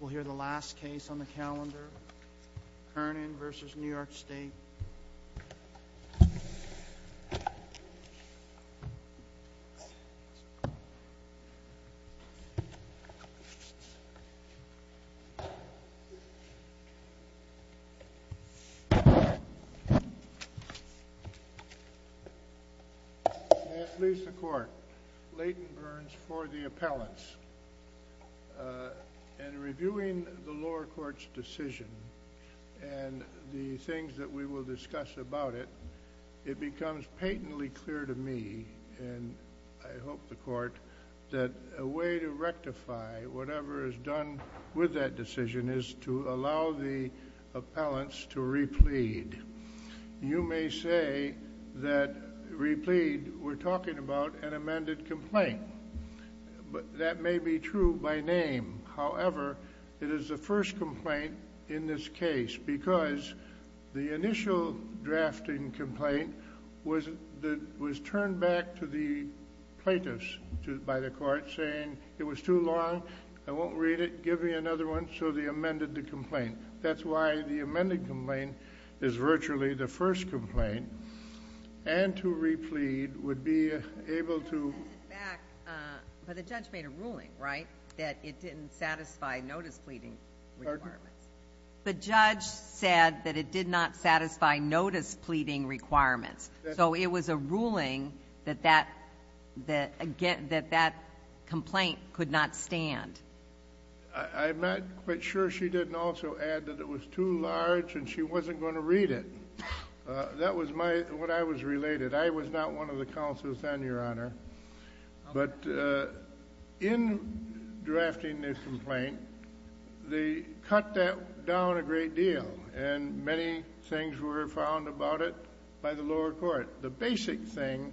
We'll hear the last case on the calendar, Kernan v. New York State. May it please the court, Leighton Burns for the appellants, and reviewing the lower court's decision, and the things that we will discuss about it, it becomes patently clear to me, and I hope the court, that a way to rectify whatever is done with that decision is to allow the appellants to replead. You may say that replead, we're talking about an amended complaint. That may be true by name. However, it is the first complaint in this case, because the initial drafting complaint was turned back to the plaintiffs by the court, saying it was too long, I won't read it, give me another one, so they amended the complaint. That's why the amended complaint is virtually the first complaint, and to replead would be able to... But the judge made a ruling, right, that it didn't satisfy notice pleading requirements? The judge said that it did not satisfy notice pleading requirements, so it was a ruling that that complaint could not stand. I'm not quite sure she didn't also add that it was too large, and she wasn't going to read it. That was what I was related. I was not one of the counsels then, Your Honor. In drafting this complaint, they cut that down a great deal, and many things were found about it by the lower court. The basic thing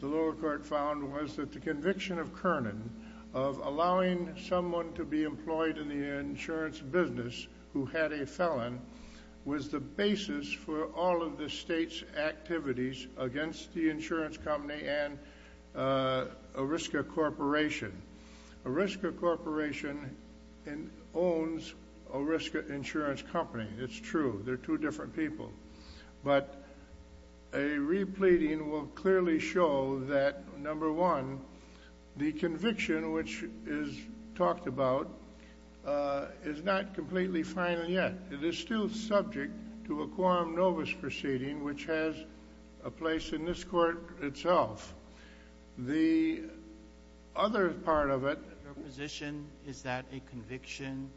the lower court found was that the conviction of Kernan of allowing someone to be employed in the insurance business who had a felon was the basis for all of the state's activities against the insurance company and Oriska Corporation. Oriska Corporation owns Oriska Insurance Company, it's true, they're two different people. But a repleading will clearly show that, number one, the conviction which is talked about is not completely final yet. It is still subject to a quorum nobis proceeding, which has a place in this court itself. The other part of it— Your position is that a conviction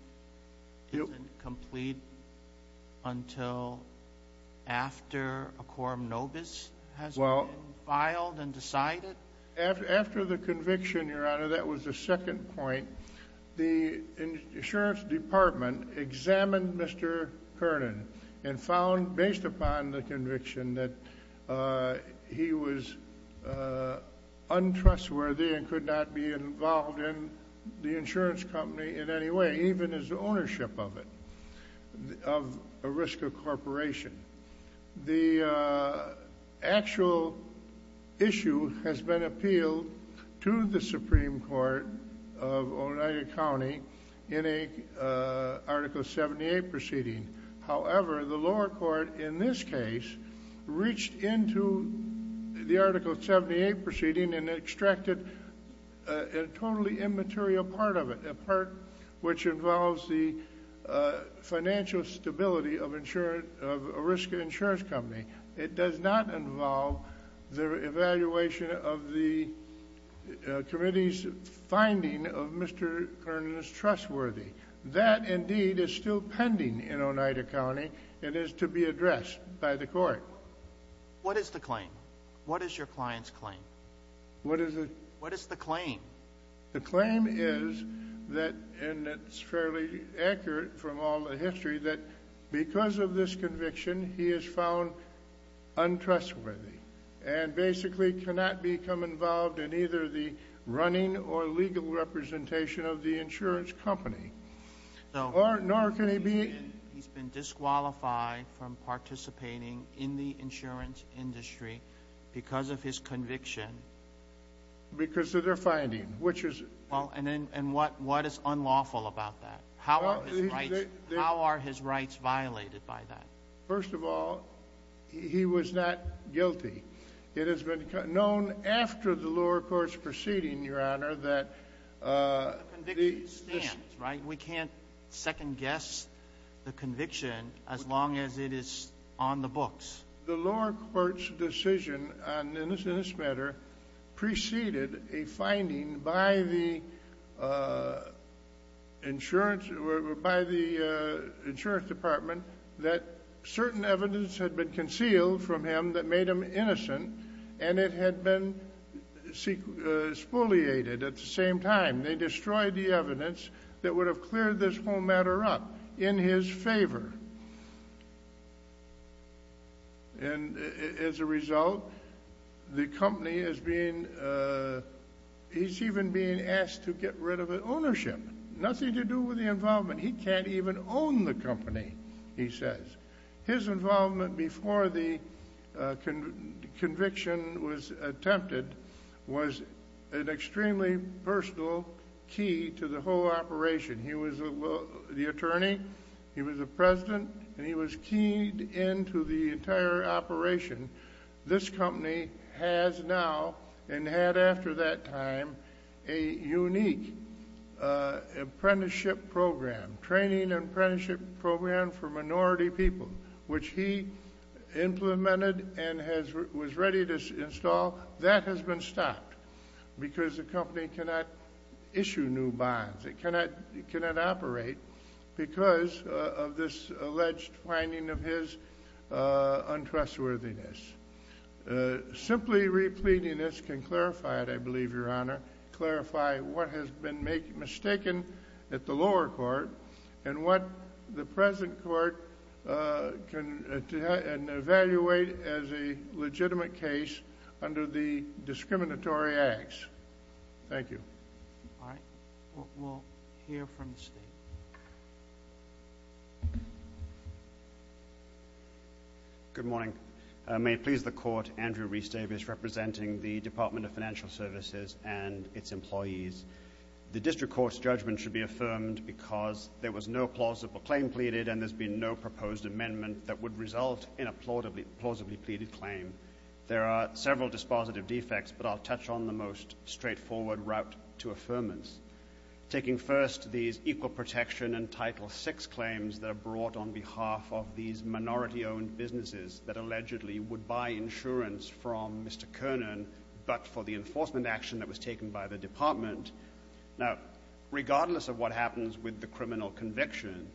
isn't complete until after a quorum nobis has been filed and decided? After the conviction, Your Honor, that was the second point. The insurance department examined Mr. Kernan and found, based upon the conviction, that he was untrustworthy and could not be involved in the insurance company in any way, even his ownership of it, of Oriska Corporation. The actual issue has been appealed to the Supreme Court of Oneida County in an Article 78 proceeding. However, the lower court in this case reached into the Article 78 proceeding and extracted a totally immaterial part of it, a part which involves the financial stability of Oriska Insurance Company. It does not involve the evaluation of the committee's finding of Mr. Kernan's trustworthiness. That indeed is still pending in Oneida County and is to be addressed by the court. What is the claim? What is your client's claim? What is the— What is the claim? The claim is that—and it's fairly accurate from all the history—that because of this conviction, he is found untrustworthy and basically cannot become involved in either the running or legal representation of the insurance company, nor can he be— He's been disqualified from participating in the insurance industry because of his conviction. Because of their finding, which is— Well, and what is unlawful about that? How are his rights violated by that? First of all, he was not guilty. It has been known after the lower court's proceeding, Your Honor, that— The conviction stands, right? We can't second-guess the conviction as long as it is on the books. The lower court's decision on this matter preceded a finding by the insurance department that certain evidence had been concealed from him that made him innocent, and it had been spoliated at the same time. They destroyed the evidence that would have cleared this whole matter up in his favor. And as a result, the company is being—he's even being asked to get rid of the ownership. Nothing to do with the involvement. He can't even own the company, he says. His involvement before the conviction was attempted was an extremely personal key to the whole operation. He was the attorney, he was the president, and he was keyed into the entire operation. This company has now, and had after that time, a unique apprenticeship program, training apprenticeship program for minority people, which he implemented and was ready to install. That has been stopped because the company cannot issue new bonds. It cannot operate because of this alleged finding of his untrustworthiness. Simply repleting this can clarify it, I believe, Your Honor, clarify what has been mistaken at the lower court and what the present court can evaluate as a legitimate case under the discriminatory acts. Thank you. All right. We'll hear from the State. Good morning. May it please the Court, Andrew Rhys-Davis representing the Department of Financial Services and its employees. The district court's judgment should be affirmed because there was no plausible claim pleaded and there's been no proposed amendment that would result in a plausibly pleaded claim. There are several dispositive defects, but I'll touch on the most straightforward route to affirmance. Taking first these equal protection and Title VI claims that are brought on behalf of these minority-owned businesses that allegedly would buy insurance from Mr. Kernan but for the enforcement action that was taken by the Department. Now, regardless of what happens with the criminal conviction,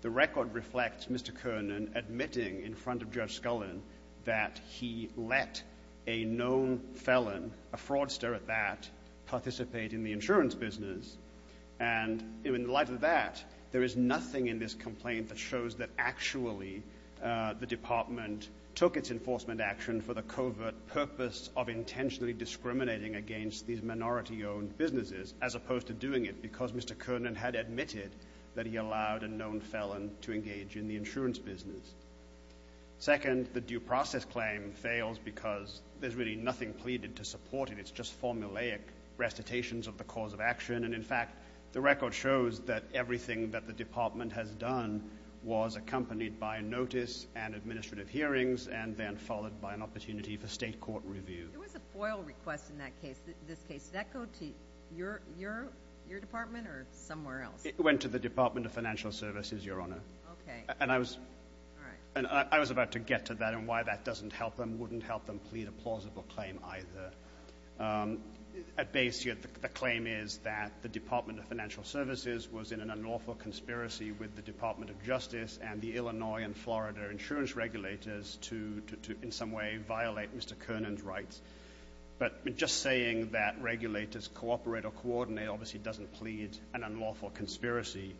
the record reflects Mr. Kernan admitting in front of Judge Scullin that he let a known felon, a fraudster at that, participate in the insurance business. And in light of that, there is nothing in this complaint that shows that actually the Department took its enforcement action for the covert purpose of intentionally discriminating against these minority-owned businesses as opposed to doing it because Mr. Kernan had admitted that he allowed a known felon to engage in the insurance business. Second, the due process claim fails because there's really nothing pleaded to support it. It's just formulaic recitations of the cause of action. And, in fact, the record shows that everything that the Department has done was accompanied by notice and administrative hearings and then followed by an opportunity for state court review. There was a FOIL request in that case. This case, did that go to your department or somewhere else? It went to the Department of Financial Services, Your Honor. Okay. And I was about to get to that and why that doesn't help them, wouldn't help them plead a plausible claim either. At base, the claim is that the Department of Financial Services was in an unlawful conspiracy with the Department of Justice and the Illinois and Florida insurance regulators to, in some way, violate Mr. Kernan's rights. But just saying that regulators cooperate or coordinate obviously doesn't plead an unlawful conspiracy.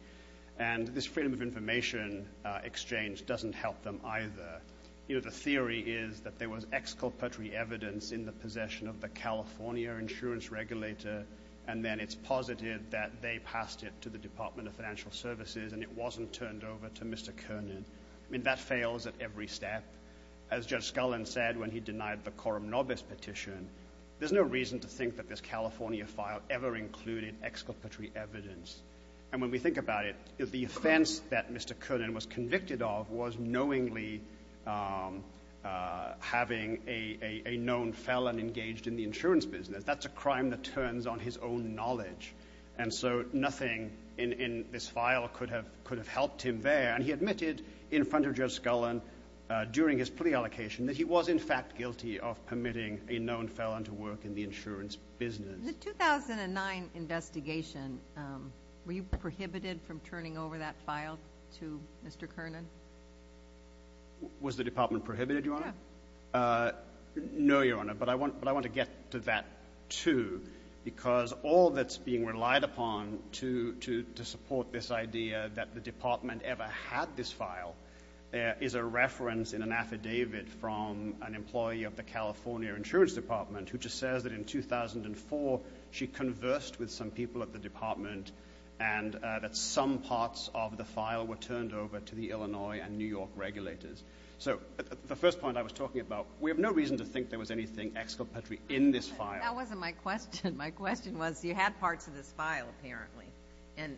And this freedom of information exchange doesn't help them either. You know, the theory is that there was exculpatory evidence in the possession of the California insurance regulator, and then it's positive that they passed it to the Department of Financial Services and it wasn't turned over to Mr. Kernan. I mean, that fails at every step. As Judge Scullin said when he denied the Coram Nobis petition, there's no reason to think that this California file ever included exculpatory evidence. And when we think about it, the offense that Mr. Kernan was convicted of was knowingly having a known felon engaged in the insurance business. That's a crime that turns on his own knowledge. And so nothing in this file could have helped him there. And he admitted in front of Judge Scullin during his plea allocation that he was, in fact, guilty of permitting a known felon to work in the insurance business. The 2009 investigation, were you prohibited from turning over that file to Mr. Kernan? Was the department prohibited, Your Honor? Yeah. No, Your Honor, but I want to get to that, too, because all that's being relied upon to support this idea that the department ever had this file is a reference in an affidavit from an employee of the California insurance department who just says that in 2004 she conversed with some people at the department and that some parts of the file were turned over to the Illinois and New York regulators. So the first point I was talking about, we have no reason to think there was anything exculpatory in this file. That wasn't my question. My question was, you had parts of this file, apparently. And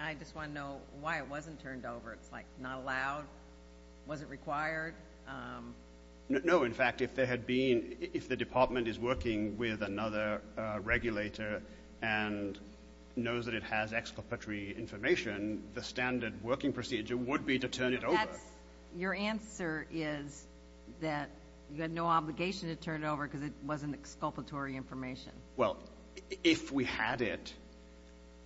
I just want to know why it wasn't turned over. It's, like, not allowed? Was it required? No. In fact, if the department is working with another regulator and knows that it has exculpatory information, the standard working procedure would be to turn it over. Your answer is that you had no obligation to turn it over because it wasn't exculpatory information. Well, if we had it.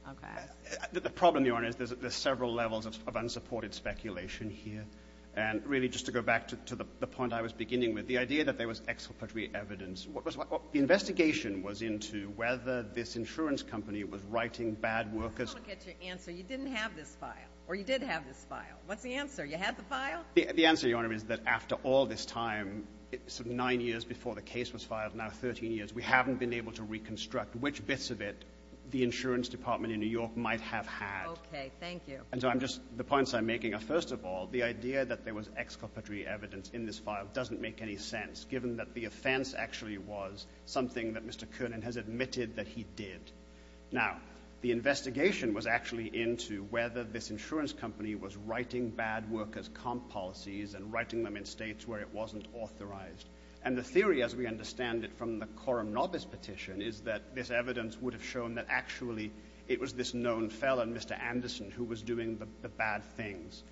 Okay. The problem, Your Honor, is there's several levels of unsupported speculation here. And really, just to go back to the point I was beginning with, the idea that there was exculpatory evidence, the investigation was into whether this insurance company was writing bad workers. I don't get your answer. You didn't have this file, or you did have this file. What's the answer? You had the file? The answer, Your Honor, is that after all this time, nine years before the case was filed, now 13 years, we haven't been able to reconstruct which bits of it the insurance department in New York might have had. Okay. Thank you. And so I'm just, the points I'm making are, first of all, the idea that there was exculpatory evidence in this file doesn't make any sense, given that the offense actually was something that Mr. Kernan has admitted that he did. Now, the investigation was actually into whether this insurance company was writing bad workers' comp policies and writing them in States where it wasn't authorized. And the theory, as we understand it from the Coram Nobis petition, is that this evidence would have shown that actually it was this known felon, Mr. Anderson, who was doing the bad things.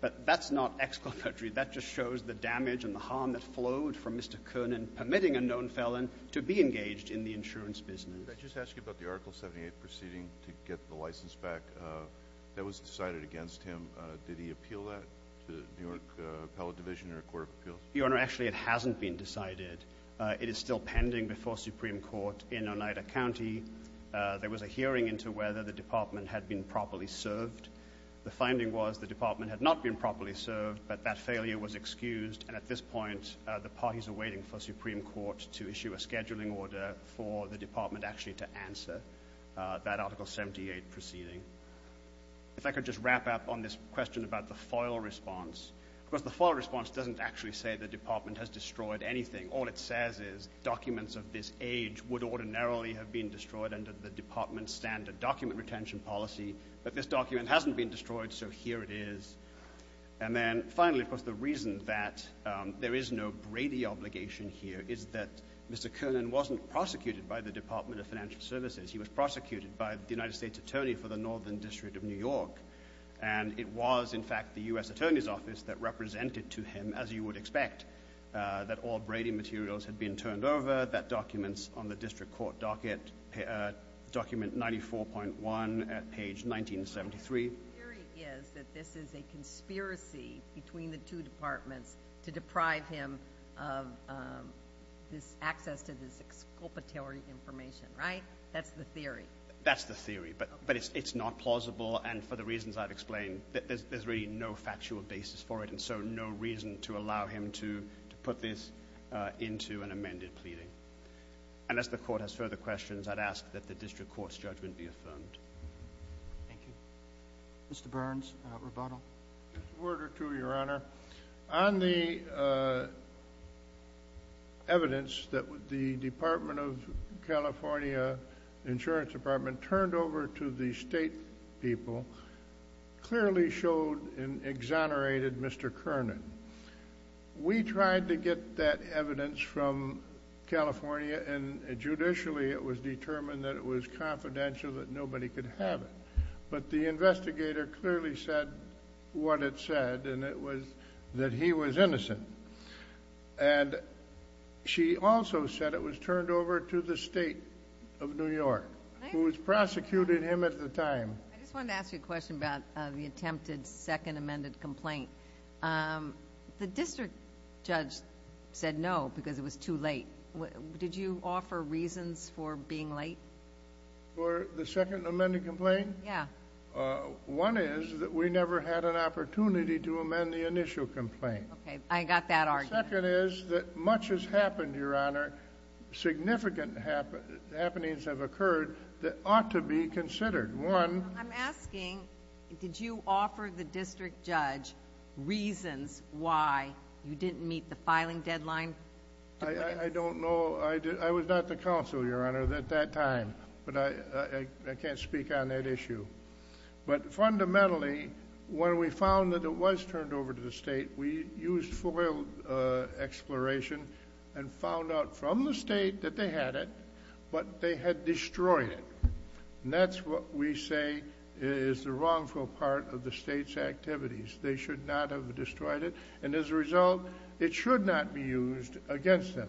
But that's not exculpatory. That just shows the damage and the harm that flowed from Mr. Kernan permitting a known felon to be engaged in the insurance business. Could I just ask you about the Article 78 proceeding to get the license back? That was decided against him. Did he appeal that to the New York Appellate Division or a court of appeals? Your Honor, actually it hasn't been decided. It is still pending before Supreme Court in Oneida County. There was a hearing into whether the department had been properly served. The finding was the department had not been properly served, but that failure was excused, and at this point the parties are waiting for Supreme Court to issue a scheduling order for the department actually to answer that Article 78 proceeding. If I could just wrap up on this question about the FOIL response. Of course, the FOIL response doesn't actually say the department has destroyed anything. All it says is documents of this age would ordinarily have been destroyed under the department's standard document retention policy, but this document hasn't been destroyed, so here it is. And then finally, of course, the reason that there is no Brady obligation here is that Mr. Kernan wasn't prosecuted by the Department of Financial Services. He was prosecuted by the United States Attorney for the Northern District of New York, and it was, in fact, the U.S. Attorney's Office that represented to him, as you would expect, that all Brady materials had been turned over, that documents on the district court docket, document 94.1 at page 1973. The theory is that this is a conspiracy between the two departments to deprive him of this access to this exculpatory information, right? That's the theory. That's the theory, but it's not plausible, and for the reasons I've explained, there's really no factual basis for it, and so no reason to allow him to put this into an amended pleading. Unless the court has further questions, I'd ask that the district court's judgment be affirmed. Thank you. Mr. Burns, rebuttal. A word or two, Your Honor. On the evidence that the Department of California Insurance Department turned over to the state people clearly showed and exonerated Mr. Kernan. We tried to get that evidence from California, and judicially it was determined that it was confidential, that nobody could have it. But the investigator clearly said what it said, and it was that he was innocent. And she also said it was turned over to the state of New York, who was prosecuting him at the time. I just wanted to ask you a question about the attempted second amended complaint. The district judge said no because it was too late. Did you offer reasons for being late? For the second amended complaint? Yeah. One is that we never had an opportunity to amend the initial complaint. Okay, I got that argument. The second is that much has happened, Your Honor, significant happenings have occurred that ought to be considered. One. I'm asking, did you offer the district judge reasons why you didn't meet the filing deadline? I don't know. I was not the counsel, Your Honor, at that time. But I can't speak on that issue. But fundamentally, when we found that it was turned over to the state, we used FOIL exploration and found out from the state that they had it, but they had destroyed it. And that's what we say is the wrongful part of the state's activities. They should not have destroyed it. And as a result, it should not be used against them.